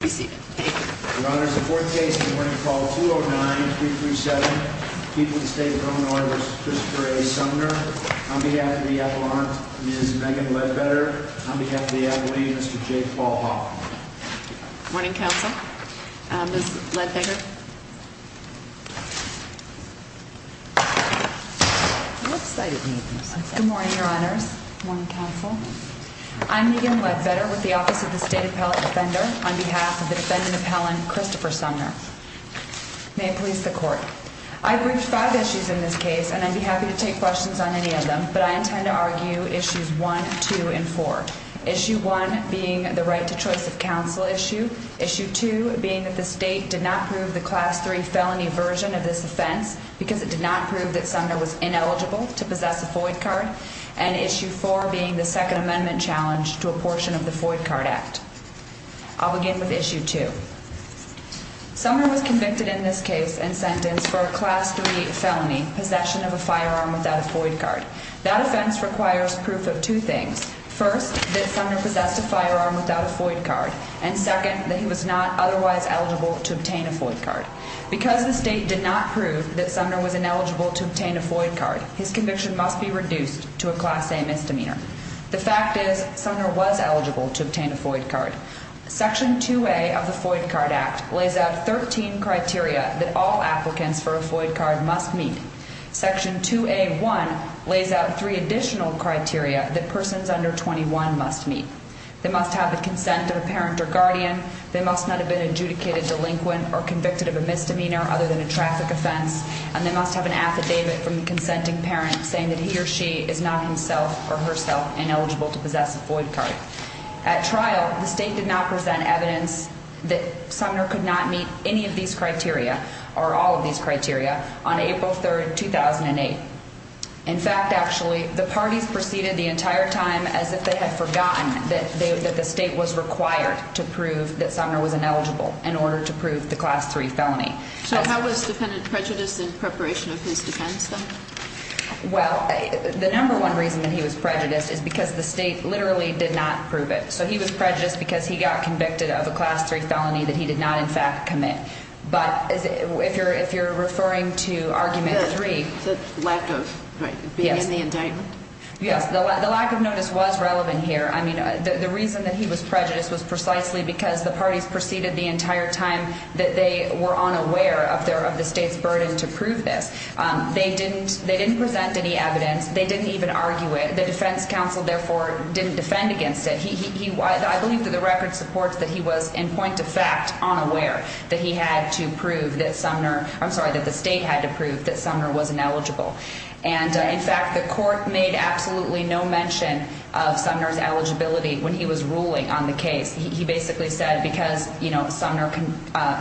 On behalf of the Avalanche, Ms. Megan Ledbetter. On behalf of the Avalanche, Mr. Jake Paul Hoffman. Good morning, counsel. Ms. Ledbetter. Good morning, your honors. Good morning, counsel. I'm Megan Ledbetter with the Office of the State Appellate Defender on behalf of the defendant appellant, Christopher Sumner. May it please the court. I've reached five issues in this case, and I'd be happy to take questions on any of them. But I intend to argue issues one, two, and four. Issue one being the right to choice of counsel issue. Issue two being that the state did not prove the class three felony version of this offense because it did not prove that Sumner was ineligible to possess a FOID card. And issue four being the second amendment challenge to a portion of the FOID card act. I'll begin with issue two. Sumner was convicted in this case and sentenced for a class three felony, possession of a firearm without a FOID card. That offense requires proof of two things. First, that Sumner possessed a firearm without a FOID card. And second, that he was not otherwise eligible to obtain a FOID card. Because the state did not prove that Sumner was ineligible to obtain a FOID card, his conviction must be reduced to a class A misdemeanor. The fact is Sumner was eligible to obtain a FOID card. Section 2A of the FOID card act lays out 13 criteria that all applicants for a FOID card must meet. Section 2A.1 lays out three additional criteria that persons under 21 must meet. They must have the consent of a parent or guardian. They must not have been adjudicated delinquent or convicted of a misdemeanor other than a traffic offense. And they must have an affidavit from the consenting parent saying that he or she is not himself or herself ineligible to possess a FOID card. At trial, the state did not present evidence that Sumner could not meet any of these criteria or all of these criteria on April 3rd, 2008. In fact, actually, the parties proceeded the entire time as if they had forgotten that the state was required to prove that Sumner was ineligible in order to prove the class three felony. So how was defendant prejudiced in preparation of his defense, though? Well, the number one reason that he was prejudiced is because the state literally did not prove it. So he was prejudiced because he got convicted of a class three felony that he did not, in fact, commit. But if you're referring to argument three. The lack of being in the indictment. Yes, the lack of notice was relevant here. I mean, the reason that he was prejudiced was precisely because the parties proceeded the entire time that they were unaware of the state's burden to prove this. They didn't present any evidence. They didn't even argue it. The defense counsel, therefore, didn't defend against it. I believe that the record supports that he was, in point of fact, unaware that he had to prove that Sumner. I'm sorry, that the state had to prove that Sumner was ineligible. And, in fact, the court made absolutely no mention of Sumner's eligibility when he was ruling on the case. He basically said because, you know, Sumner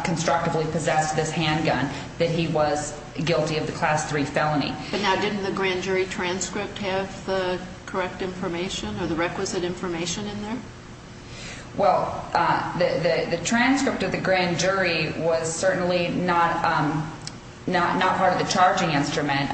constructively possessed this handgun, that he was guilty of the class three felony. But now didn't the grand jury transcript have the correct information or the requisite information in there? Well, the transcript of the grand jury was certainly not part of the charging instrument.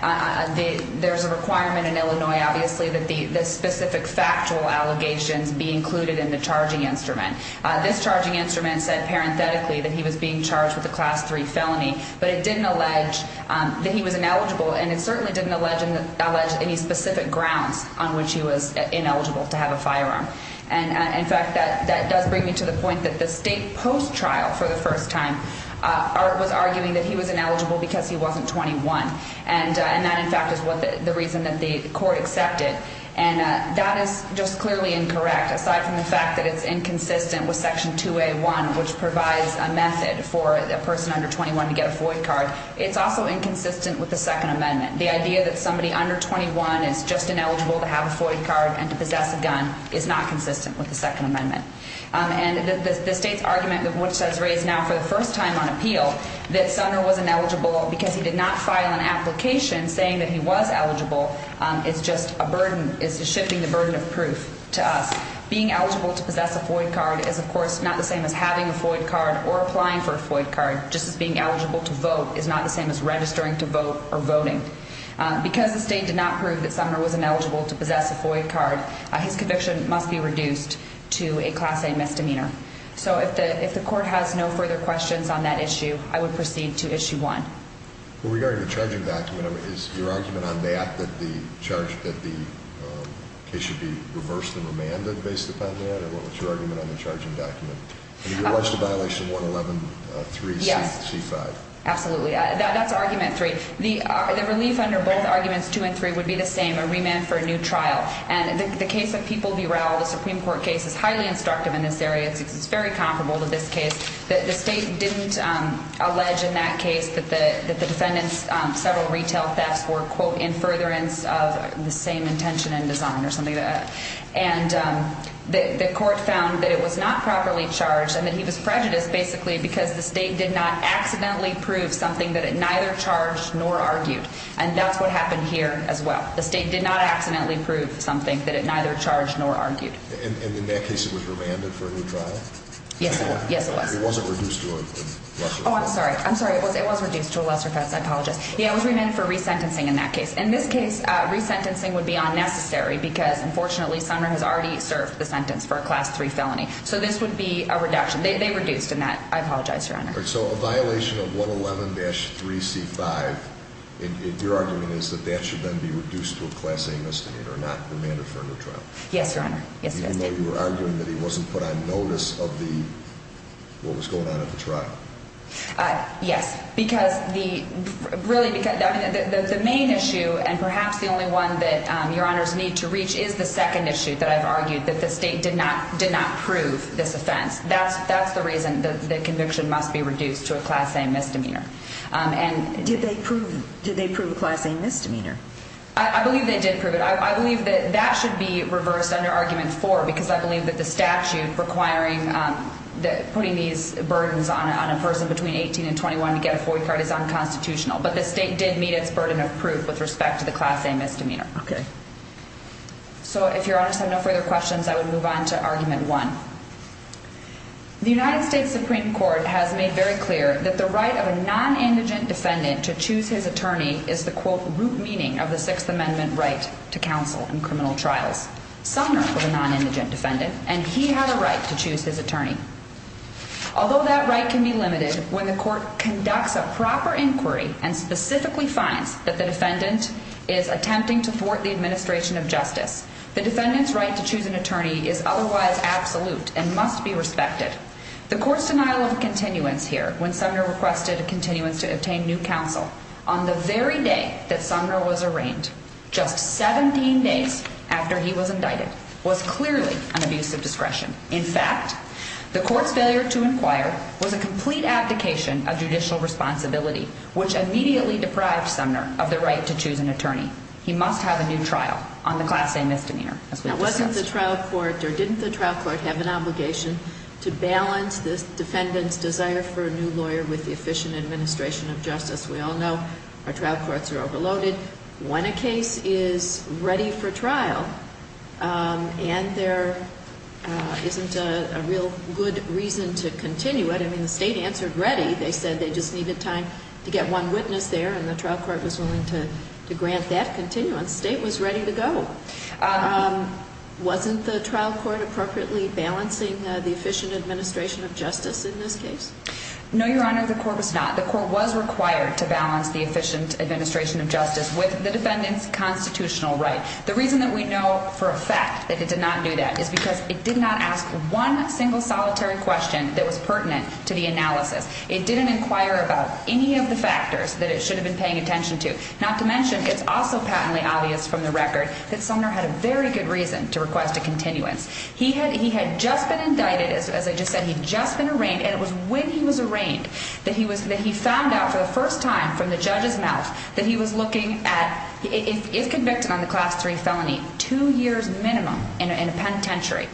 There's a requirement in Illinois, obviously, that the specific factual allegations be included in the charging instrument. This charging instrument said parenthetically that he was being charged with a class three felony. But it didn't allege that he was ineligible. And it certainly didn't allege any specific grounds on which he was ineligible to have a firearm. And, in fact, that does bring me to the point that the state post-trial for the first time was arguing that he was ineligible because he wasn't 21. And that, in fact, is the reason that the court accepted. And that is just clearly incorrect, aside from the fact that it's inconsistent with Section 2A.1, which provides a method for a person under 21 to get a Floyd card. It's also inconsistent with the Second Amendment. The idea that somebody under 21 is just ineligible to have a Floyd card and to possess a gun is not consistent with the Second Amendment. And the state's argument, which has raised now for the first time on appeal, that Sumner was ineligible because he did not file an application saying that he was eligible is just a burden. It's shifting the burden of proof to us. Being eligible to possess a Floyd card is, of course, not the same as having a Floyd card or applying for a Floyd card. Just as being eligible to vote is not the same as registering to vote or voting. Because the state did not prove that Sumner was ineligible to possess a Floyd card, his conviction must be reduced to a Class A misdemeanor. So if the court has no further questions on that issue, I would proceed to Issue 1. With regard to the charging document, is your argument on that that the case should be reversed and remanded based upon that? Or what's your argument on the charging document? Have you watched the violation of 111.3.C.5? Absolutely. That's Argument 3. The relief under both Arguments 2 and 3 would be the same, a remand for a new trial. And the case of People v. Rowell, the Supreme Court case, is highly instructive in this area. It's very comparable to this case. The state didn't allege in that case that the defendant's several retail thefts were, quote, in furtherance of the same intention and design or something like that. And the court found that it was not properly charged and that he was prejudiced, basically, because the state did not accidentally prove something that it neither charged nor argued. And that's what happened here as well. The state did not accidentally prove something that it neither charged nor argued. And in that case, it was remanded for a new trial? Yes, it was. It wasn't reduced to a lesser offense? Oh, I'm sorry. I'm sorry. It was reduced to a lesser offense. I apologize. Yeah, it was remanded for resentencing in that case. In this case, resentencing would be unnecessary because, unfortunately, Sumner has already served the sentence for a Class 3 felony. So this would be a reduction. They reduced in that. I apologize, Your Honor. So a violation of 111.3.C.5, your argument is that that should then be reduced to a Class A misdemeanor, not remanded for a new trial? Yes, Your Honor. Yes, it is. So you're arguing that he wasn't put on notice of what was going on at the trial? Yes, because the main issue, and perhaps the only one that Your Honors need to reach, is the second issue that I've argued, that the state did not prove this offense. That's the reason that the conviction must be reduced to a Class A misdemeanor. Did they prove a Class A misdemeanor? I believe they did prove it. I believe that that should be reversed under Argument 4, because I believe that the statute requiring putting these burdens on a person between 18 and 21 to get a FOIA card is unconstitutional. But the state did meet its burden of proof with respect to the Class A misdemeanor. So if Your Honors have no further questions, I would move on to Argument 1. The United States Supreme Court has made very clear that the right of a non-indigent defendant to choose his attorney is the, quote, root meaning of the Sixth Amendment right to counsel in criminal trials. Sumner was a non-indigent defendant, and he had a right to choose his attorney. Although that right can be limited when the court conducts a proper inquiry and specifically finds that the defendant is attempting to thwart the administration of justice, the defendant's right to choose an attorney is otherwise absolute and must be respected. The court's denial of a continuance here, when Sumner requested a continuance to obtain new counsel, on the very day that Sumner was arraigned, just 17 days after he was indicted, was clearly an abuse of discretion. In fact, the court's failure to inquire was a complete abdication of judicial responsibility, which immediately deprived Sumner of the right to choose an attorney. He must have a new trial on the Class A misdemeanor, as we discussed. Didn't the trial court have an obligation to balance the defendant's desire for a new lawyer with the efficient administration of justice? We all know our trial courts are overloaded. When a case is ready for trial and there isn't a real good reason to continue it, I mean, the state answered ready. They said they just needed time to get one witness there, and the trial court was willing to grant that continuance. The state was ready to go. Wasn't the trial court appropriately balancing the efficient administration of justice in this case? No, Your Honor, the court was not. The court was required to balance the efficient administration of justice with the defendant's constitutional right. The reason that we know for a fact that it did not do that is because it did not ask one single solitary question that was pertinent to the analysis. It didn't inquire about any of the factors that it should have been paying attention to, not to mention it's also patently obvious from the record that Sumner had a very good reason to request a continuance. He had just been indicted, as I just said, he'd just been arraigned, and it was when he was arraigned that he found out for the first time from the judge's mouth that he was looking at, if convicted on the Class III felony, two years minimum in a penitentiary.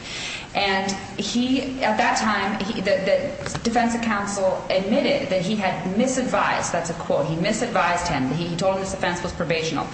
And he, at that time, the defense counsel admitted that he had misadvised, that's a quote, he misadvised him, he told him his offense was probationable.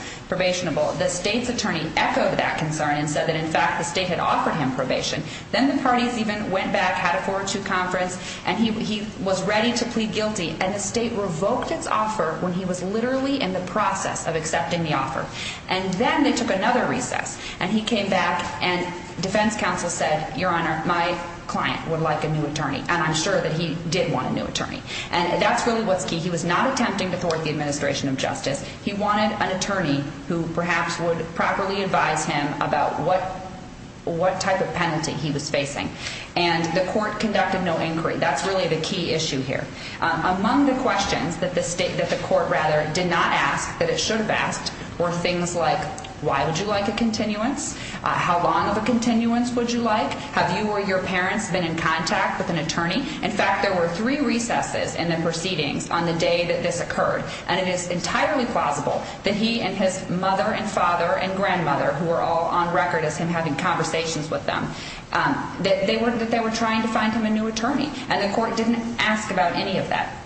The state's attorney echoed that concern and said that, in fact, the state had offered him probation. Then the parties even went back, had a 4-2 conference, and he was ready to plead guilty, and the state revoked its offer when he was literally in the process of accepting the offer. And then they took another recess, and he came back, and defense counsel said, Your Honor, my client would like a new attorney, and I'm sure that he did want a new attorney. And that's really what's key. He was not attempting to thwart the administration of justice. He wanted an attorney who perhaps would properly advise him about what type of penalty he was facing. And the court conducted no inquiry. That's really the key issue here. Among the questions that the court did not ask, that it should have asked, were things like, Why would you like a continuance? How long of a continuance would you like? In fact, there were three recesses in the proceedings on the day that this occurred, and it is entirely plausible that he and his mother and father and grandmother, who were all on record as him having conversations with them, that they were trying to find him a new attorney, and the court didn't ask about any of that.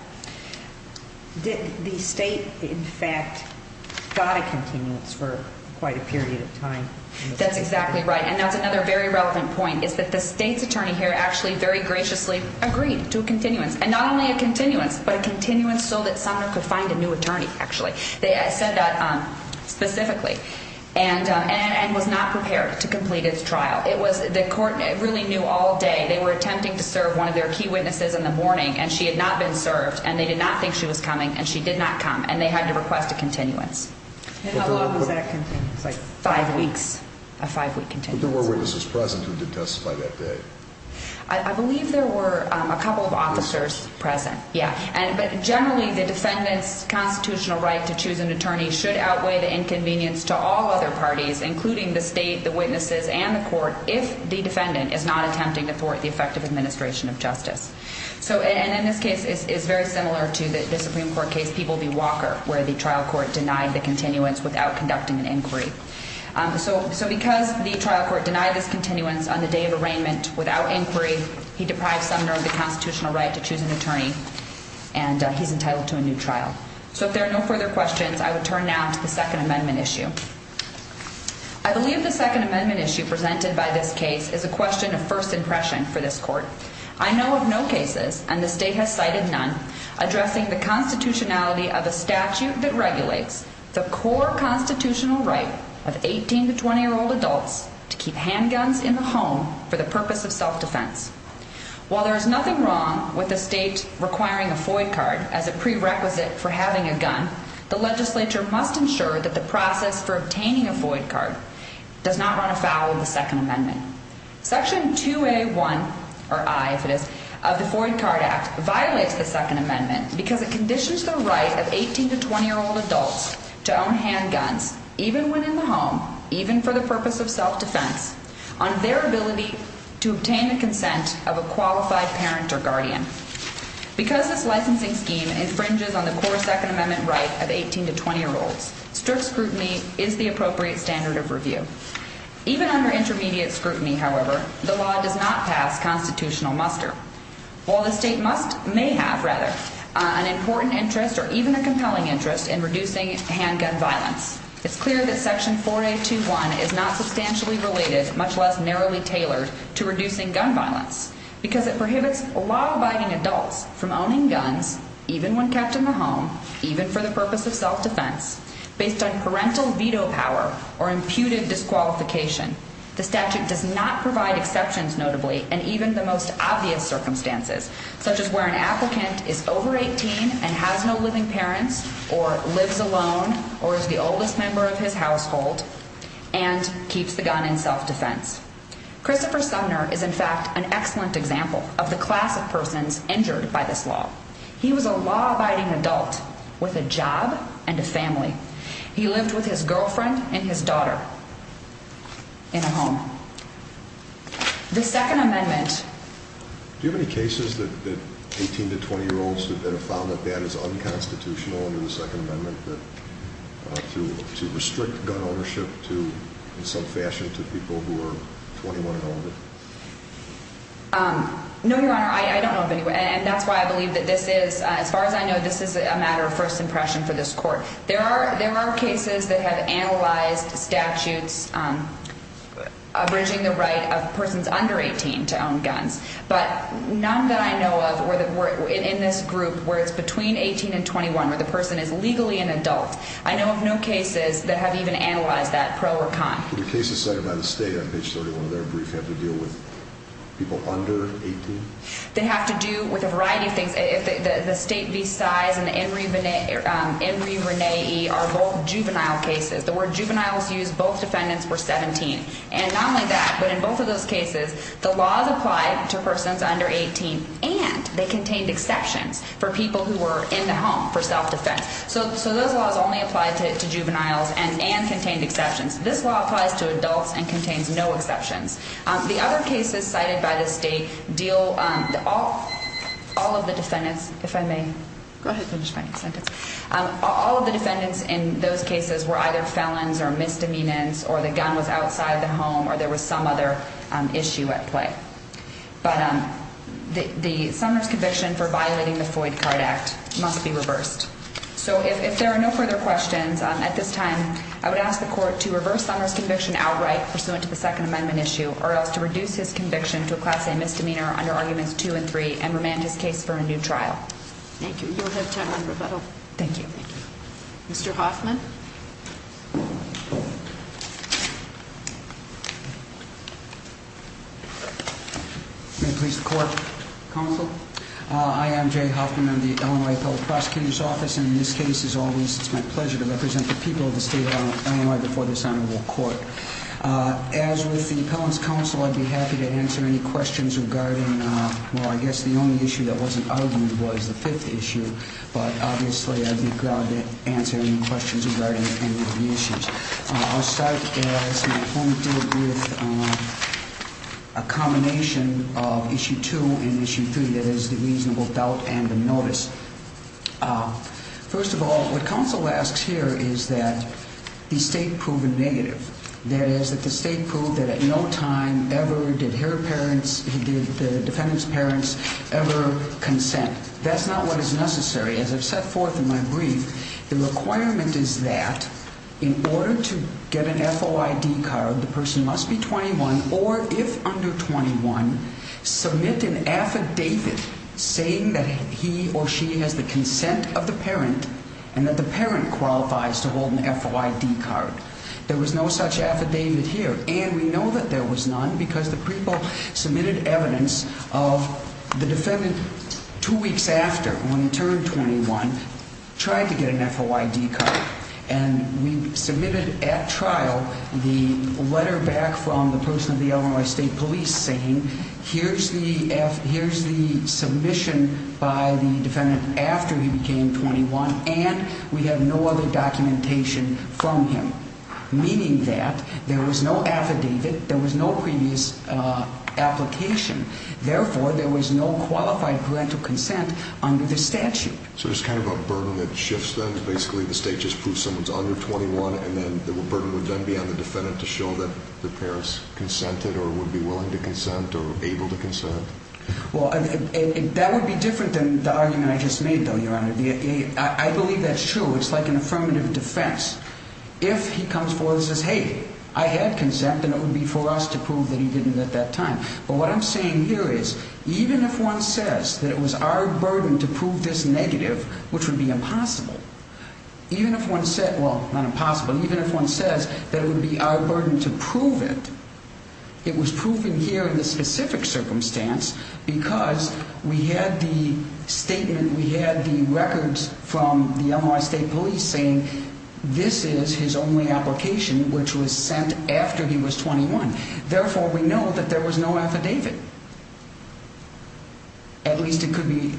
Did the state, in fact, got a continuance for quite a period of time? That's exactly right, and that's another very relevant point, is that the state's attorney here actually very graciously agreed to a continuance, and not only a continuance, but a continuance so that Sumner could find a new attorney, actually. They said that specifically, and was not prepared to complete its trial. The court really knew all day. They were attempting to serve one of their key witnesses in the morning, and she had not been served, and they did not think she was coming, and she did not come, and they had to request a continuance. And how long was that continuance? Five weeks, a five-week continuance. If there were witnesses present, who did testify that day? I believe there were a couple of officers present, yeah. But generally, the defendant's constitutional right to choose an attorney should outweigh the inconvenience to all other parties, including the state, the witnesses, and the court, if the defendant is not attempting to thwart the effective administration of justice. And in this case, it's very similar to the Supreme Court case People v. Walker, where the trial court denied the continuance without conducting an inquiry. So because the trial court denied this continuance on the day of arraignment without inquiry, he deprives Sumner of the constitutional right to choose an attorney, and he's entitled to a new trial. So if there are no further questions, I would turn now to the Second Amendment issue. I believe the Second Amendment issue presented by this case is a question of first impression for this court. I know of no cases, and the state has cited none, addressing the constitutionality of a statute that regulates the core constitutional right of 18- to 20-year-old adults to keep handguns in the home for the purpose of self-defense. While there is nothing wrong with the state requiring a FOID card as a prerequisite for having a gun, the legislature must ensure that the process for obtaining a FOID card does not run afoul of the Second Amendment. Section 2A1, or I if it is, of the FOID card act violates the Second Amendment because it conditions the right of 18- to 20-year-old adults to own handguns, even when in the home, even for the purpose of self-defense, on their ability to obtain the consent of a qualified parent or guardian. Because this licensing scheme infringes on the core Second Amendment right of 18- to 20-year-olds, strict scrutiny is the appropriate standard of review. Even under intermediate scrutiny, however, the law does not pass constitutional muster. While the state must, may have, rather, an important interest or even a compelling interest in reducing handgun violence, it's clear that Section 4A21 is not substantially related, much less narrowly tailored, to reducing gun violence because it prohibits law-abiding adults from owning guns, even when kept in the home, even for the purpose of self-defense, based on parental veto power or imputed disqualification. The statute does not provide exceptions, notably, in even the most obvious circumstances, such as where an applicant is over 18 and has no living parents or lives alone or is the oldest member of his household and keeps the gun in self-defense. Christopher Sumner is, in fact, an excellent example of the class of persons injured by this law. He was a law-abiding adult with a job and a family. He lived with his girlfriend and his daughter in a home. The Second Amendment... Do you have any cases that 18- to 20-year-olds that have found that that is unconstitutional under the Second Amendment to restrict gun ownership to, in some fashion, to people who are 21 and older? No, Your Honor. I don't know of any. And that's why I believe that this is... As far as I know, this is a matter of first impression for this Court. There are cases that have analyzed statutes abridging the right of persons under 18 to own guns, but none that I know of in this group where it's between 18 and 21, where the person is legally an adult. I know of no cases that have even analyzed that, pro or con. Do the cases cited by the State on page 31 of their brief have to deal with people under 18? They have to do with a variety of things. The State v. Size and the Enri Renee are both juvenile cases. The word juveniles used, both defendants were 17. And not only that, but in both of those cases, the laws applied to persons under 18, and they contained exceptions for people who were in the home for self-defense. So those laws only applied to juveniles and contained exceptions. This law applies to adults and contains no exceptions. The other cases cited by the State deal... All of the defendants, if I may. Go ahead and finish my next sentence. All of the defendants in those cases were either felons or misdemeanants or the gun was outside the home or there was some other issue at play. But the Sumner's conviction for violating the Foyd Card Act must be reversed. So if there are no further questions at this time, I would ask the Court to reverse Sumner's conviction outright pursuant to the Second Amendment issue or else to reduce his conviction to a Class A misdemeanor under Arguments 2 and 3 and remand his case for a new trial. Thank you. You'll have time on rebuttal. Thank you. Mr. Hoffman? May it please the Court, Counsel? I am Jay Hoffman. I'm the Illinois Appellate Prosecutor's Office. And in this case, as always, it's my pleasure to represent the people of the State of Illinois before this Honorable Court. As with the Appellant's Counsel, I'd be happy to answer any questions regarding... Well, I guess the only issue that wasn't argued was the fifth issue. But, obviously, I'd be glad to answer any questions regarding any of the issues. I'll start, as my home did, with a combination of Issue 2 and Issue 3 that is the reasonable doubt and the notice. First of all, what Counsel asks here is that the State prove a negative. That is, that the State prove that at no time ever did her parents, did the defendant's parents, ever consent. That's not what is necessary. As I've set forth in my brief, the requirement is that in order to get an FOID card, the person must be 21 or, if under 21, submit an affidavit saying that he or she has the consent of the parent and that the parent qualifies to hold an FOID card. There was no such affidavit here. And we know that there was none because the people submitted evidence of the defendant, two weeks after, when he turned 21, tried to get an FOID card. And we submitted at trial the letter back from the person of the Illinois State Police saying, here's the submission by the defendant after he became 21, and we have no other documentation from him. Meaning that there was no affidavit, there was no previous application. Therefore, there was no qualified parental consent under the statute. So there's kind of a burden that shifts then? Basically, the state just proves someone's under 21, and then the burden would then be on the defendant to show that the parents consented or would be willing to consent or able to consent? Well, that would be different than the argument I just made, though, Your Honor. I believe that's true. It's like an affirmative defense. If he comes forward and says, hey, I had consent, then it would be for us to prove that he didn't at that time. But what I'm saying here is even if one says that it was our burden to prove this negative, which would be impossible, even if one said, well, not impossible, even if one says that it would be our burden to prove it, it was proven here in this specific circumstance because we had the statement, we had the records from the Illinois State Police saying this is his only application, which was sent after he was 21. Therefore, we know that there was no affidavit. At least it could be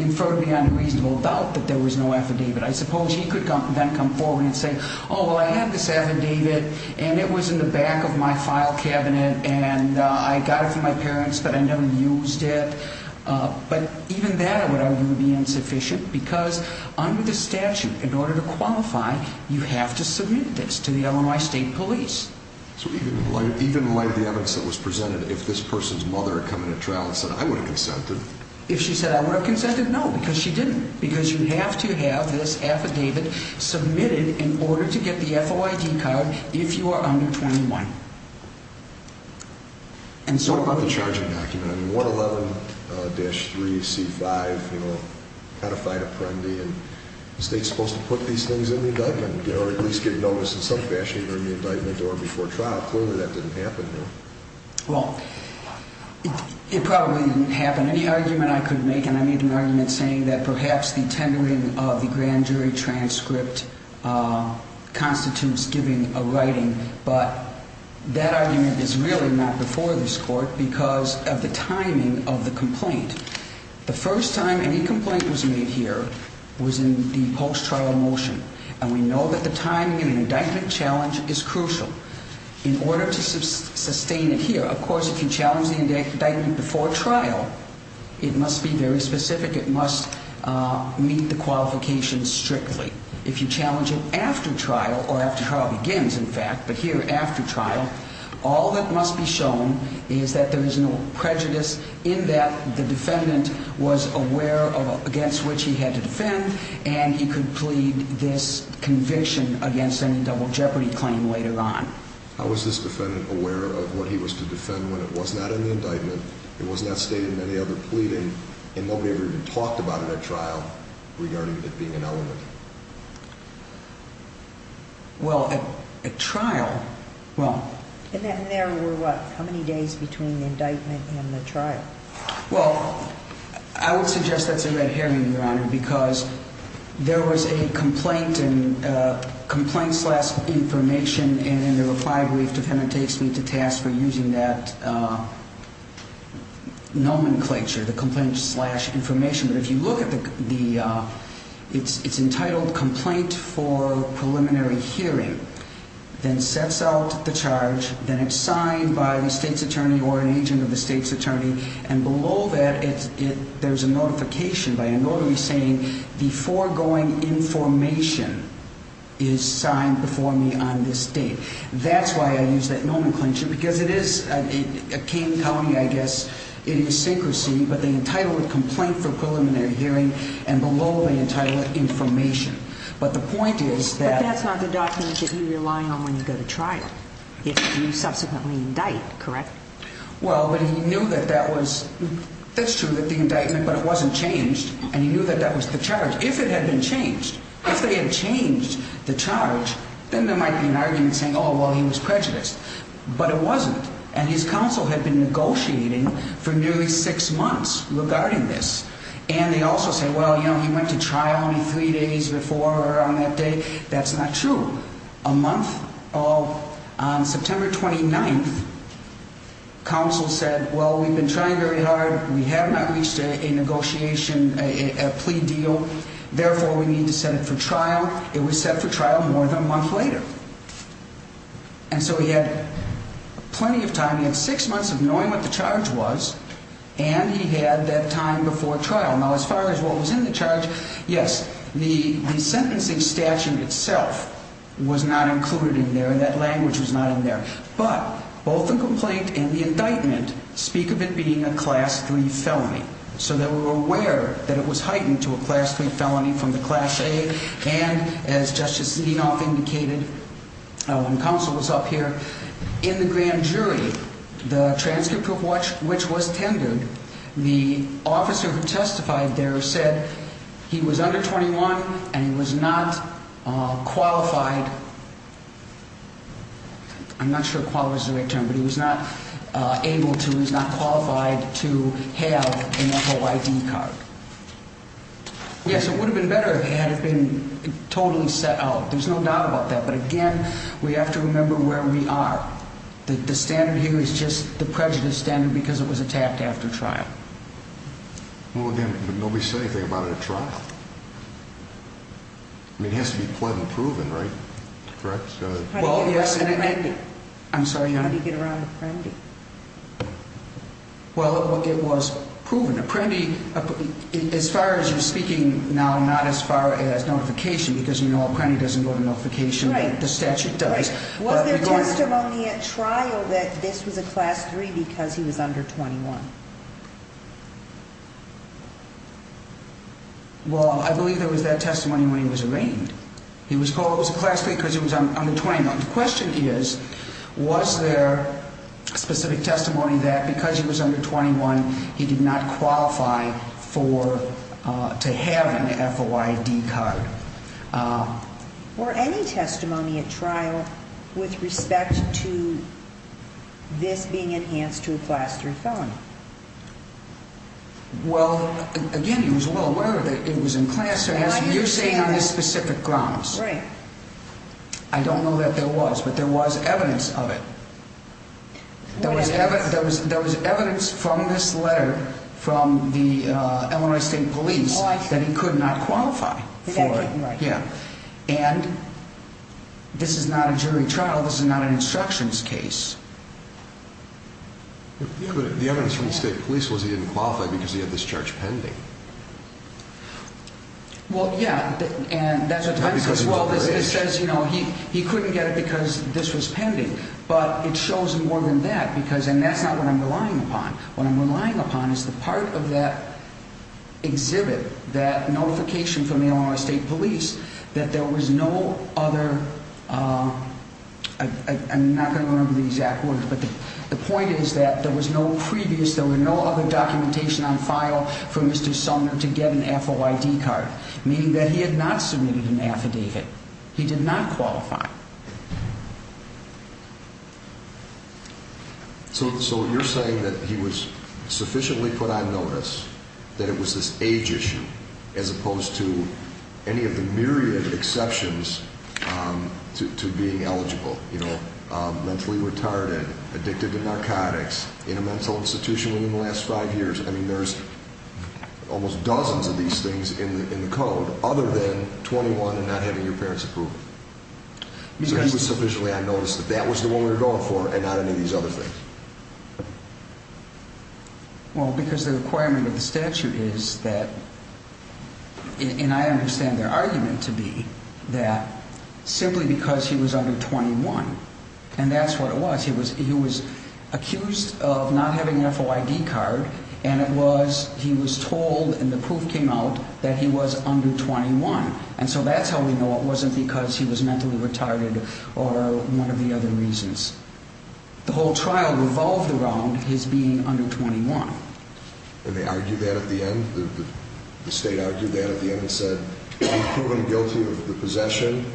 inferred beyond a reasonable doubt that there was no affidavit. I suppose he could then come forward and say, oh, well, I had this affidavit, and it was in the back of my file cabinet, and I got it from my parents, but I never used it. But even that, I would argue, would be insufficient because under the statute, in order to qualify, you have to submit this to the Illinois State Police. So even in light of the evidence that was presented, if this person's mother had come into trial and said, I would have consented. If she said, I would have consented, no, because she didn't, because you have to have this affidavit submitted in order to get the FOID card if you are under 21. And so what about the charging document? I mean, 111-3C5, you know, codified apprendi, and the state's supposed to put these things in the indictment in order to at least get noticed in some fashion during the indictment or before trial. Clearly, that didn't happen here. Well, it probably didn't happen. Any argument I could make, and I need an argument saying that perhaps the tendering of the grand jury transcript constitutes giving a writing, but that argument is really not before this Court because of the timing of the complaint. The first time any complaint was made here was in the post-trial motion, and we know that the timing in an indictment challenge is crucial. In order to sustain it here, of course, if you challenge the indictment before trial, it must be very specific. It must meet the qualifications strictly. If you challenge it after trial, or after trial begins, in fact, but here after trial, all that must be shown is that there is no prejudice in that the defendant was aware of against which he had to defend, and he could plead this conviction against any double jeopardy claim later on. How was this defendant aware of what he was to defend when it was not in the indictment, it was not stated in any other pleading, and nobody ever even talked about it at trial regarding it being an element? Well, at trial, well... And there were, what, how many days between the indictment and the trial? Well, I would suggest that's a red herring, Your Honor, because there was a complaint and a complaint slash information, and in the reply brief, the defendant takes me to task for using that nomenclature, the complaint slash information. But if you look at the, it's entitled Complaint for Preliminary Hearing, then sets out the charge, then it's signed by the state's attorney or an agent of the state's attorney, and below that, there's a notification by a notary saying the foregoing information is signed before me on this date. That's why I use that nomenclature, because it is a Kane County, I guess, idiosyncrasy, but they entitle it Complaint for Preliminary Hearing, and below they entitle it Information. But the point is that... But that's not the document that you rely on when you go to trial, if you subsequently indict, correct? Well, but he knew that that was, that's true, that the indictment, but it wasn't changed, and he knew that that was the charge. If it had been changed, if they had changed the charge, then there might be an argument saying, oh, well, he was prejudiced. But it wasn't, and his counsel had been negotiating for nearly six months regarding this, and they also say, well, you know, he went to trial only three days before or on that date. That's not true. A month of September 29th, counsel said, well, we've been trying very hard. We have not reached a negotiation, a plea deal. Therefore, we need to set it for trial. It was set for trial more than a month later, and so he had plenty of time. He had six months of knowing what the charge was, and he had that time before trial. Now, as far as what was in the charge, yes, the sentencing statute itself was not included in there. That language was not in there. But both the complaint and the indictment speak of it being a Class III felony, so that we're aware that it was heightened to a Class III felony from the Class A, And as Justice Leanoff indicated when counsel was up here, in the grand jury, the transcript of which was tendered, the officer who testified there said he was under 21 and he was not qualified. I'm not sure qualified is the right term, but he was not able to, he was not qualified to have an OID card. Yes, it would have been better if it had been totally set out. There's no doubt about that. But again, we have to remember where we are. The standard here is just the prejudice standard because it was attacked after trial. Well, again, nobody said anything about it at trial. I mean, it has to be pled and proven, right? Correct? Well, yes. How did he get around Apprendi? Well, it was proven. Apprendi, as far as you're speaking now, not as far as notification, because you know Apprendi doesn't go to notification, but the statute does. Was there testimony at trial that this was a Class III because he was under 21? Well, I believe there was that testimony when he was arraigned. He was called a Class III because he was under 21. The question is, was there specific testimony that because he was under 21, he did not qualify to have an FOID card? Were any testimony at trial with respect to this being enhanced to a Class III felony? Well, again, he was well aware that it was in Class III. You're saying on this specific grounds. Right. I don't know that there was, but there was evidence of it. What evidence? There was evidence from this letter from the Illinois State Police that he could not qualify for it. Yeah. And this is not a jury trial. This is not an instructions case. Yeah, but the evidence from the State Police was he didn't qualify because he had this charge pending. Well, yeah, and that's what time says. Well, it says, you know, he couldn't get it because this was pending. But it shows more than that because, and that's not what I'm relying upon. What I'm relying upon is the part of that exhibit, that notification from the Illinois State Police that there was no other, I'm not going to remember the exact words, but the point is that there was no previous, there were no other documentation on file for Mr. Sumner to get an FOID card, meaning that he had not submitted an affidavit. He did not qualify. So you're saying that he was sufficiently put on notice that it was this age issue as opposed to any of the myriad of exceptions to being eligible, you know, mentally retarded, addicted to narcotics, in a mental institution within the last five years. I mean, there's almost dozens of these things in the code other than 21 and not having your parents' approval. So he was sufficiently on notice that that was the one we were going for and not any of these other things. Well, because the requirement of the statute is that, and I understand their argument to be that, simply because he was under 21. And that's what it was. He was accused of not having an FOID card, and it was he was told, and the proof came out, that he was under 21. And so that's how we know it wasn't because he was mentally retarded or one of the other reasons. The whole trial revolved around his being under 21. And they argued that at the end? The state argued that at the end and said, we've proven guilty of the possession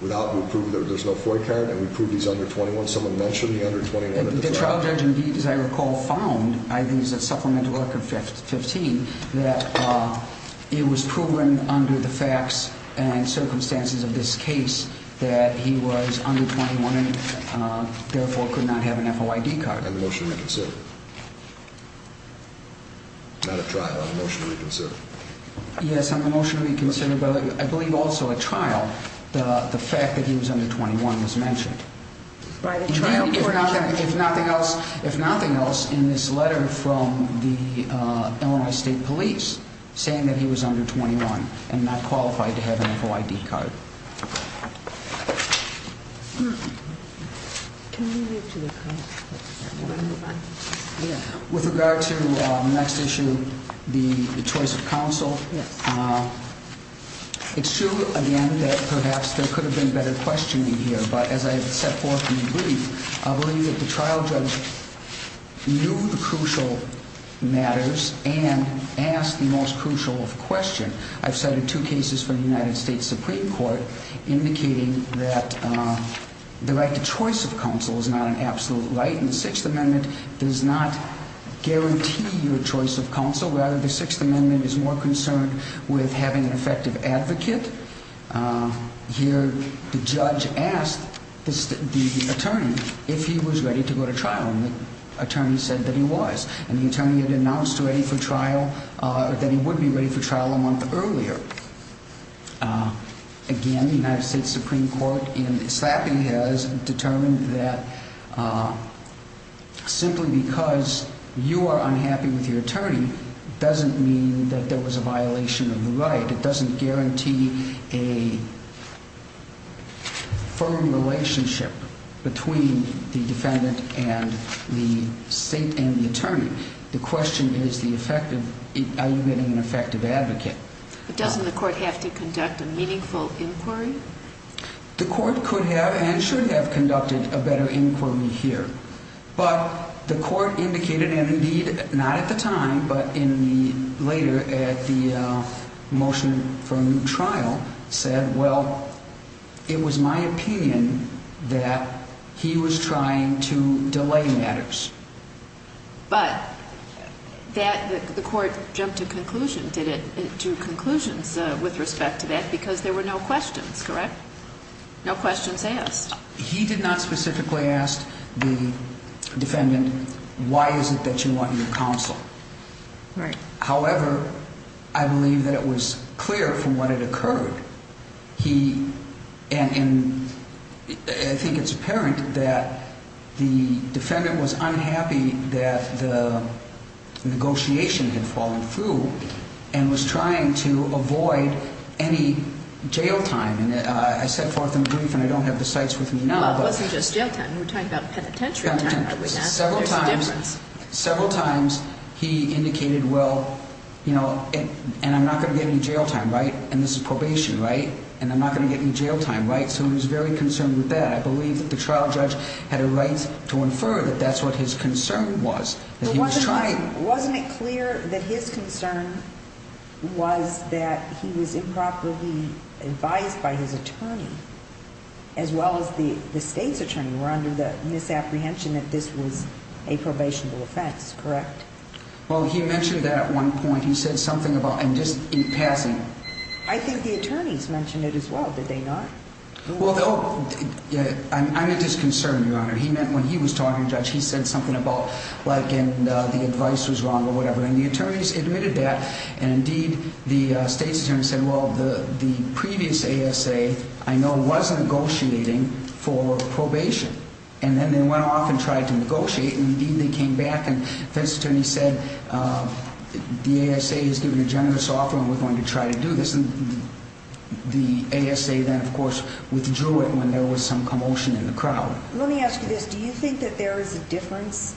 without the proof that there's no FOID card, and we prove he's under 21. Someone mentioned the under 21 at the trial. The trial judge, indeed, as I recall, found, I think it was at supplemental record 15, that it was proven under the facts and circumstances of this case that he was under 21 and therefore could not have an FOID card. On the motion to reconsider? Not a trial, on the motion to reconsider? Yes, on the motion to reconsider, but I believe also a trial, the fact that he was under 21 was mentioned. If nothing else, in this letter from the Illinois State Police, saying that he was under 21 and not qualified to have an FOID card. With regard to the next issue, the choice of counsel, it's true, again, that perhaps there could have been better questioning here. But as I set forth in the brief, I believe that the trial judge knew the crucial matters and asked the most crucial question. I've cited two cases from the United States Supreme Court indicating that the right to choice of counsel is not an absolute right. And the Sixth Amendment does not guarantee your choice of counsel. Rather, the Sixth Amendment is more concerned with having an effective advocate. Here, the judge asked the attorney if he was ready to go to trial, and the attorney said that he was. And the attorney had announced that he would be ready for trial a month earlier. Again, the United States Supreme Court in slapping has determined that simply because you are unhappy with your attorney doesn't mean that there was a violation of the right. It doesn't guarantee a firm relationship between the defendant and the state and the attorney. The question is, are you getting an effective advocate? But doesn't the court have to conduct a meaningful inquiry? The court could have and should have conducted a better inquiry here. But the court indicated, and indeed not at the time, but later at the motion for a new trial, said, well, it was my opinion that he was trying to delay matters. But the court jumped to conclusions with respect to that because there were no questions, correct? No questions asked. He did not specifically ask the defendant, why is it that you want your counsel? Right. However, I believe that it was clear from what had occurred. I think it's apparent that the defendant was unhappy that the negotiation had fallen through and was trying to avoid any jail time. I set forth in brief, and I don't have the cites with me now. Well, it wasn't just jail time. We're talking about penitentiary time. Several times he indicated, well, and I'm not going to get any jail time, right? And this is probation, right? And I'm not going to get any jail time, right? So he was very concerned with that. I believe that the trial judge had a right to infer that that's what his concern was, that he was trying. Wasn't it clear that his concern was that he was improperly advised by his attorney as well as the state's attorney were under the misapprehension that this was a probationable offense, correct? Well, he mentioned that at one point. He said something about, and just in passing. I think the attorneys mentioned it as well, did they not? He said something about the advice was wrong or whatever. And the attorneys admitted that. And indeed, the state's attorney said, well, the previous ASA, I know, was negotiating for probation. And then they went off and tried to negotiate. And indeed, they came back. And this attorney said, the ASA has given a generous offer, and we're going to try to do this. And the ASA then, of course, withdrew it when there was some commotion in the crowd. Let me ask you this. Do you think that there is a difference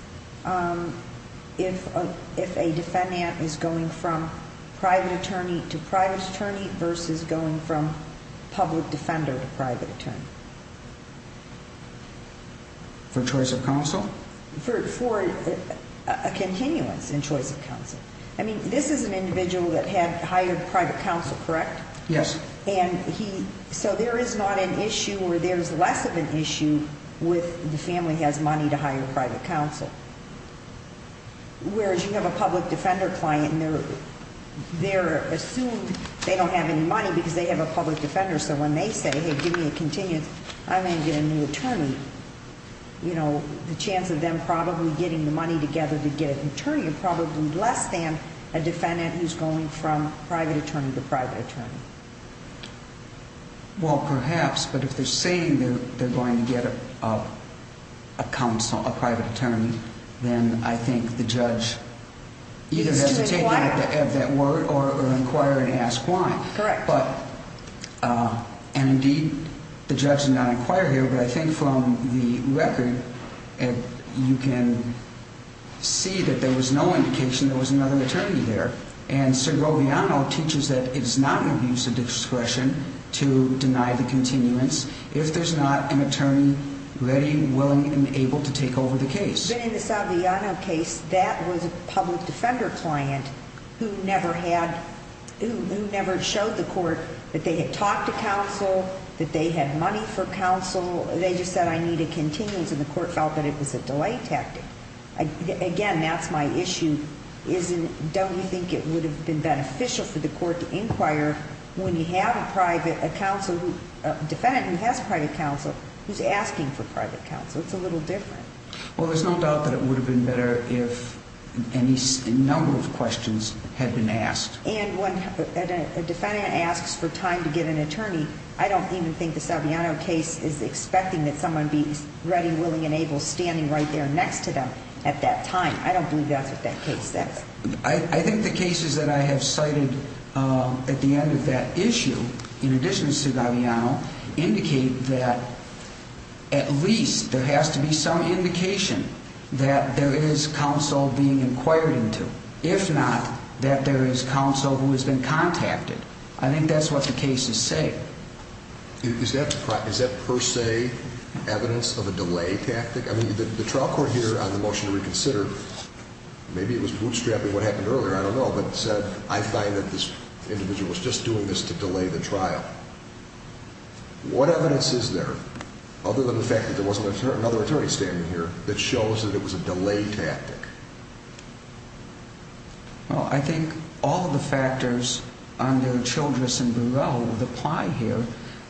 if a defendant is going from private attorney to private attorney versus going from public defender to private attorney? For choice of counsel? For a continuance in choice of counsel. I mean, this is an individual that had hired private counsel, correct? Yes. So there is not an issue or there is less of an issue with the family has money to hire private counsel. Whereas you have a public defender client, and they're assumed they don't have any money because they have a public defender. So when they say, hey, give me a continuance, I'm going to get a new attorney, the chance of them probably getting the money together to get an attorney is probably less than a defendant who's going from private attorney to private attorney. Well, perhaps. But if they're saying they're going to get a private attorney, then I think the judge either has to take that word or inquire and ask why. Correct. And indeed, the judge did not inquire here, but I think from the record, you can see that there was no indication there was another attorney there. And Sir Roviano teaches that it is not an abuse of discretion to deny the continuance if there's not an attorney ready, willing, and able to take over the case. But in the Saviano case, that was a public defender client who never showed the court that they had talked to counsel, that they had money for counsel. They just said, I need a continuance, and the court felt that it was a delay tactic. Again, that's my issue. Don't you think it would have been beneficial for the court to inquire when you have a defendant who has private counsel who's asking for private counsel? It's a little different. Well, there's no doubt that it would have been better if a number of questions had been asked. And when a defendant asks for time to get an attorney, I don't even think the Saviano case is expecting that someone be ready, willing, and able standing right there next to them at that time. I don't believe that's what that case says. I think the cases that I have cited at the end of that issue, in addition to Saviano, indicate that at least there has to be some indication that there is counsel being inquired into. If not, that there is counsel who has been contacted. I think that's what the cases say. Is that per se evidence of a delay tactic? The trial court here on the motion to reconsider, maybe it was bootstrapping what happened earlier, I don't know. But I find that this individual was just doing this to delay the trial. What evidence is there, other than the fact that there was another attorney standing here, that shows that it was a delay tactic? Well, I think all of the factors under Childress and Burrell would apply here.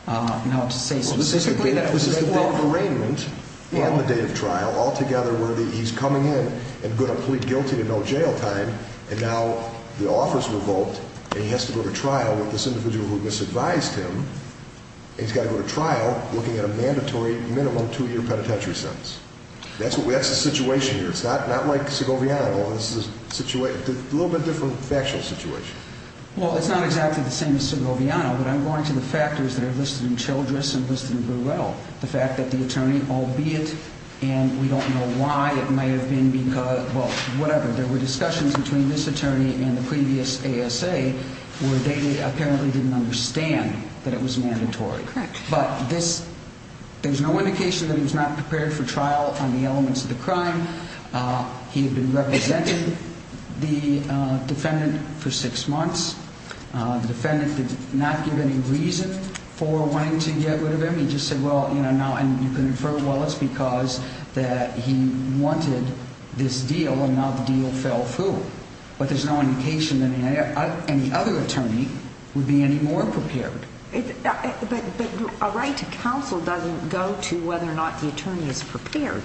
Now, to say specifically that was a delay of arraignment and the date of trial, altogether, were that he's coming in and going to plead guilty to no jail time. And now the offer's revoked, and he has to go to trial with this individual who misadvised him. And he's got to go to trial looking at a mandatory minimum two-year penitentiary sentence. That's the situation here. It's not like Segoviano, where this is a little bit different factual situation. Well, it's not exactly the same as Segoviano, but I'm going to the factors that are listed in Childress and listed in Burrell. The fact that the attorney, albeit, and we don't know why it might have been because, well, whatever. There were discussions between this attorney and the previous ASA where they apparently didn't understand that it was mandatory. Correct. But there's no indication that he was not prepared for trial on the elements of the crime. He had been representing the defendant for six months. The defendant did not give any reason for wanting to get rid of him. He just said, well, you know, now you can infer, well, it's because that he wanted this deal, and now the deal fell through. But there's no indication that any other attorney would be any more prepared. But a right to counsel doesn't go to whether or not the attorney is prepared.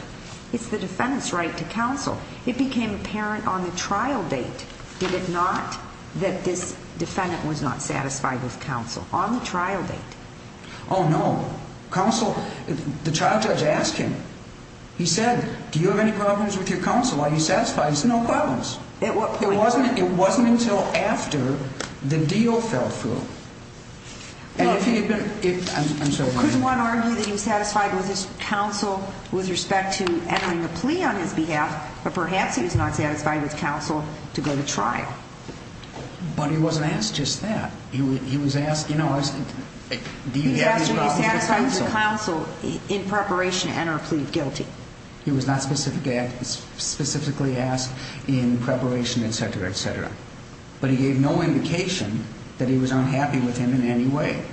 It's the defendant's right to counsel. It became apparent on the trial date, did it not, that this defendant was not satisfied with counsel on the trial date. Oh, no. Counsel, the trial judge asked him. He said, do you have any problems with your counsel? He said, no problems. At what point? It wasn't until after the deal fell through. Could one argue that he was satisfied with his counsel with respect to entering a plea on his behalf, but perhaps he was not satisfied with counsel to go to trial? But he wasn't asked just that. He was asked, you know, do you have any problems with counsel? He was asked if he was satisfied with his counsel in preparation to enter a plea of guilty. He was not specifically asked in preparation, et cetera, et cetera. But he gave no indication that he was unhappy with him in any way.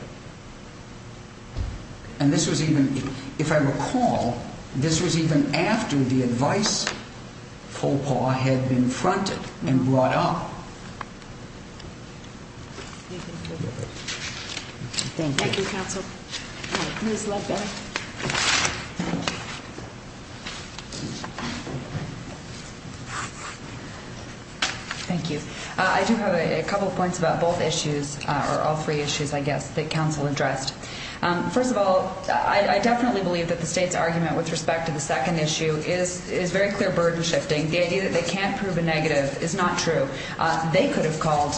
And this was even, if I recall, this was even after the advice faux pas had been fronted and brought up. Thank you. Thank you, counsel. Ms. Ledbetter. Thank you. I do have a couple of points about both issues, or all three issues, I guess, that counsel addressed. First of all, I definitely believe that the state's argument with respect to the second issue is very clear burden shifting. The idea that they can't prove a negative is not true. They could have called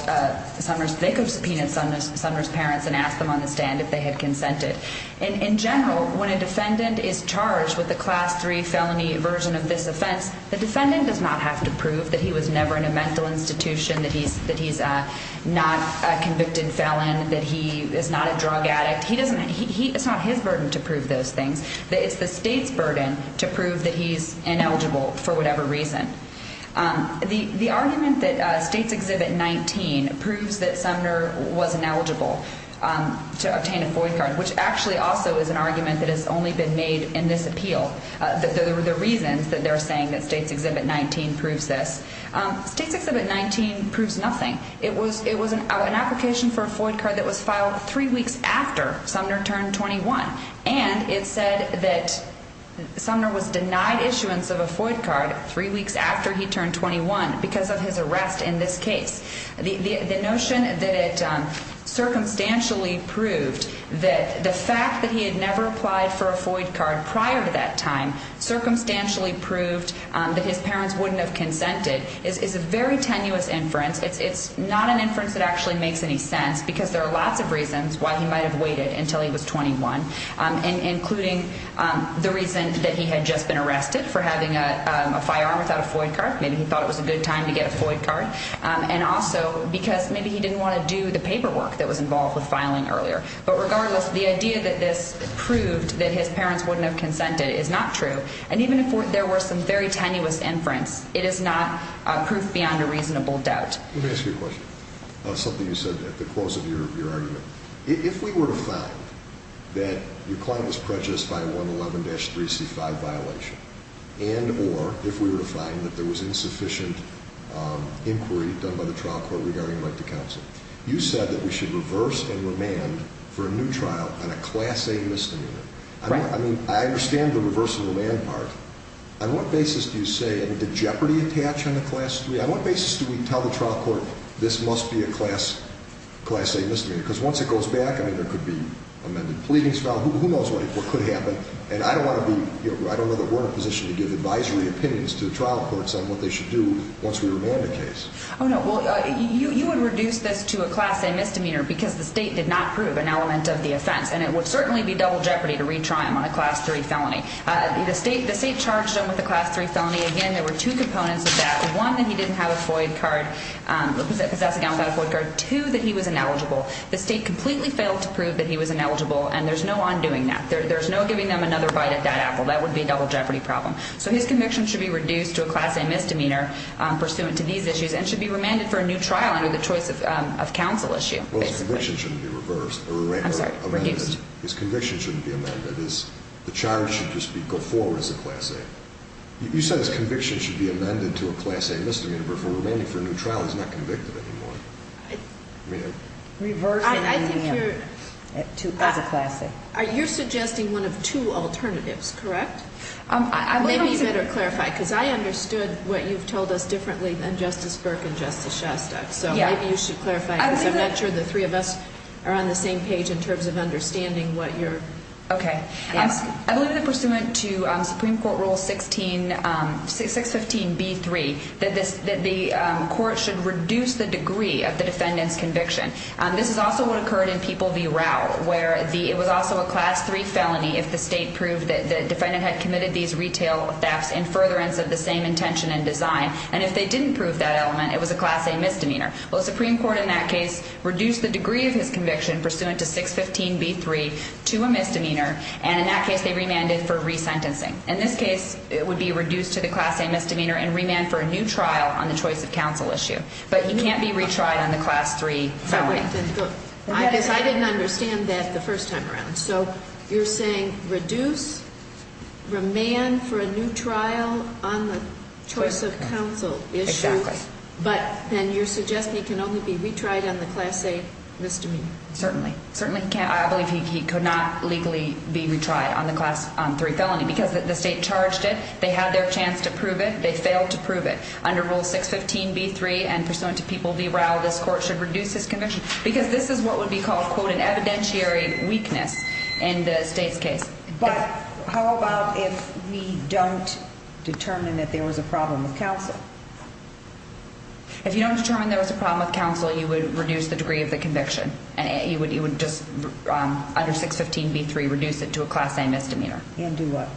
Sumner's – they could have subpoenaed Sumner's parents and asked them on the stand if they had consented. In general, when a defendant is charged with a Class III felony version of this offense, the defendant does not have to prove that he was never in a mental institution, that he's not a convicted felon, that he is not a drug addict. He doesn't – it's not his burden to prove those things. It's the state's burden to prove that he's ineligible for whatever reason. The argument that States Exhibit 19 proves that Sumner was ineligible to obtain a FOID card, which actually also is an argument that has only been made in this appeal, the reasons that they're saying that States Exhibit 19 proves this, States Exhibit 19 proves nothing. It was an application for a FOID card that was filed three weeks after Sumner turned 21, and it said that Sumner was denied issuance of a FOID card three weeks after he turned 21 because of his arrest in this case. The notion that it circumstantially proved that the fact that he had never applied for a FOID card prior to that time circumstantially proved that his parents wouldn't have consented is a very tenuous inference. It's not an inference that actually makes any sense because there are lots of reasons why he might have waited until he was 21, including the reason that he had just been arrested for having a firearm without a FOID card. Maybe he thought it was a good time to get a FOID card. And also because maybe he didn't want to do the paperwork that was involved with filing earlier. But regardless, the idea that this proved that his parents wouldn't have consented is not true. And even if there were some very tenuous inference, it is not proof beyond a reasonable doubt. Let me ask you a question, something you said at the close of your argument. If we were to find that your client was prejudiced by a 111-3C5 violation, and or if we were to find that there was insufficient inquiry done by the trial court regarding right to counsel, you said that we should reverse and remand for a new trial on a Class A misdemeanor. Right. I mean, I understand the reverse and remand part. On what basis do you say, did jeopardy attach on the Class 3? On what basis do we tell the trial court this must be a Class A misdemeanor? Because once it goes back, I mean, there could be amended pleadings filed. Who knows what could happen. And I don't want to be, you know, I don't know that we're in a position to give advisory opinions to the trial courts on what they should do once we remand the case. Oh, no. Well, you would reduce this to a Class A misdemeanor because the state did not prove an element of the offense. And it would certainly be double jeopardy to retry him on a Class 3 felony. The state charged him with a Class 3 felony. Again, there were two components of that. One, that he didn't have a FOIA card, possess a gun without a FOIA card. Two, that he was ineligible. The state completely failed to prove that he was ineligible, and there's no undoing that. There's no giving them another bite at that apple. That would be a double jeopardy problem. So his conviction should be reduced to a Class A misdemeanor pursuant to these issues and should be remanded for a new trial under the choice of counsel issue, basically. Well, his conviction shouldn't be reversed. I'm sorry, reduced. His conviction shouldn't be amended. The charge should just go forward as a Class A. You said his conviction should be amended to a Class A misdemeanor before remaining for a new trial. He's not convicted anymore. Reversing as a Class A. Are you suggesting one of two alternatives, correct? Maybe you better clarify because I understood what you've told us differently than Justice Burke and Justice Shostak. So maybe you should clarify because I'm not sure the three of us are on the same page in terms of understanding what you're asking. Okay. I believe that pursuant to Supreme Court Rule 615B3, that the court should reduce the degree of the defendant's conviction. This is also what occurred in People v. Rowell, where it was also a Class 3 felony if the state proved that the defendant had committed these retail thefts in furtherance of the same intention and design. And if they didn't prove that element, it was a Class A misdemeanor. Well, the Supreme Court in that case reduced the degree of his conviction pursuant to 615B3 to a misdemeanor, and in that case they remanded for resentencing. In this case, it would be reduced to the Class A misdemeanor and remanded for a new trial on the choice of counsel issue. But he can't be retried on the Class 3 felony. I guess I didn't understand that the first time around. So you're saying reduce, remand for a new trial on the choice of counsel issue. Exactly. But then you're suggesting he can only be retried on the Class A misdemeanor. Certainly. Certainly he can't. I believe he could not legally be retried on the Class 3 felony because the state charged it. They had their chance to prove it. They failed to prove it. Under Rule 615B3 and pursuant to People v. Rowell, this court should reduce his conviction because this is what would be called, quote, an evidentiary weakness in the state's case. But how about if we don't determine that there was a problem with counsel? If you don't determine there was a problem with counsel, you would reduce the degree of the conviction. You would just, under 615B3, reduce it to a Class A misdemeanor. And do what?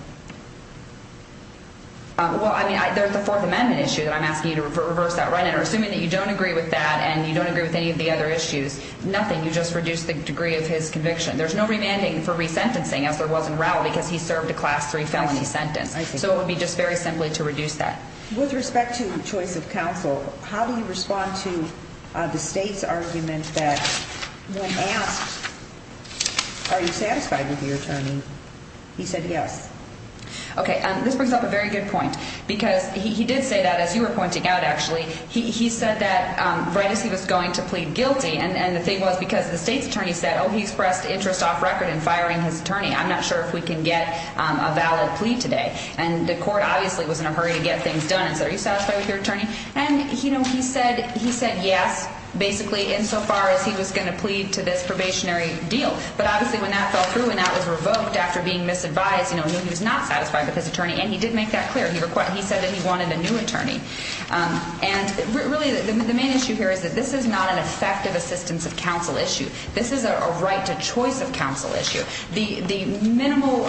Well, I mean, there's the Fourth Amendment issue that I'm asking you to reverse that right now. Assuming that you don't agree with that and you don't agree with any of the other issues, nothing. You just reduce the degree of his conviction. There's no remanding for resentencing, as there was in Rowell, because he served a Class 3 felony sentence. So it would be just very simply to reduce that. With respect to choice of counsel, how do you respond to the state's argument that when asked, are you satisfied with your attorney, he said yes? Okay, this brings up a very good point because he did say that, as you were pointing out, actually. He said that right as he was going to plead guilty, and the thing was because the state's attorney said, oh, he's pressed interest off record in firing his attorney. I'm not sure if we can get a valid plea today. And the court obviously was in a hurry to get things done and said, are you satisfied with your attorney? And he said yes, basically, insofar as he was going to plead to this probationary deal. But obviously, when that fell through and that was revoked after being misadvised, he was not satisfied with his attorney. And he did make that clear. He said that he wanted a new attorney. And really, the main issue here is that this is not an effective assistance of counsel issue. This is a right to choice of counsel issue. The minimal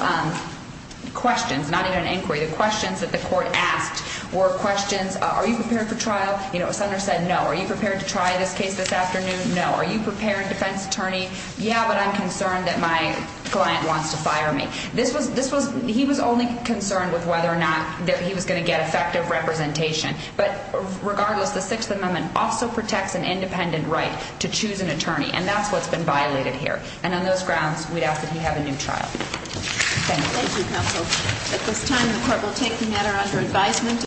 questions, not even an inquiry, the questions that the court asked were questions, are you prepared for trial? A senator said no. Are you prepared to try this case this afternoon? No. Are you prepared, defense attorney? Yeah, but I'm concerned that my client wants to fire me. He was only concerned with whether or not he was going to get effective representation. But regardless, the Sixth Amendment also protects an independent right to choose an attorney. And that's what's been violated here. And on those grounds, we'd ask that he have a new trial. Thank you. Thank you, counsel. At this time, the court will take the matter under advisement.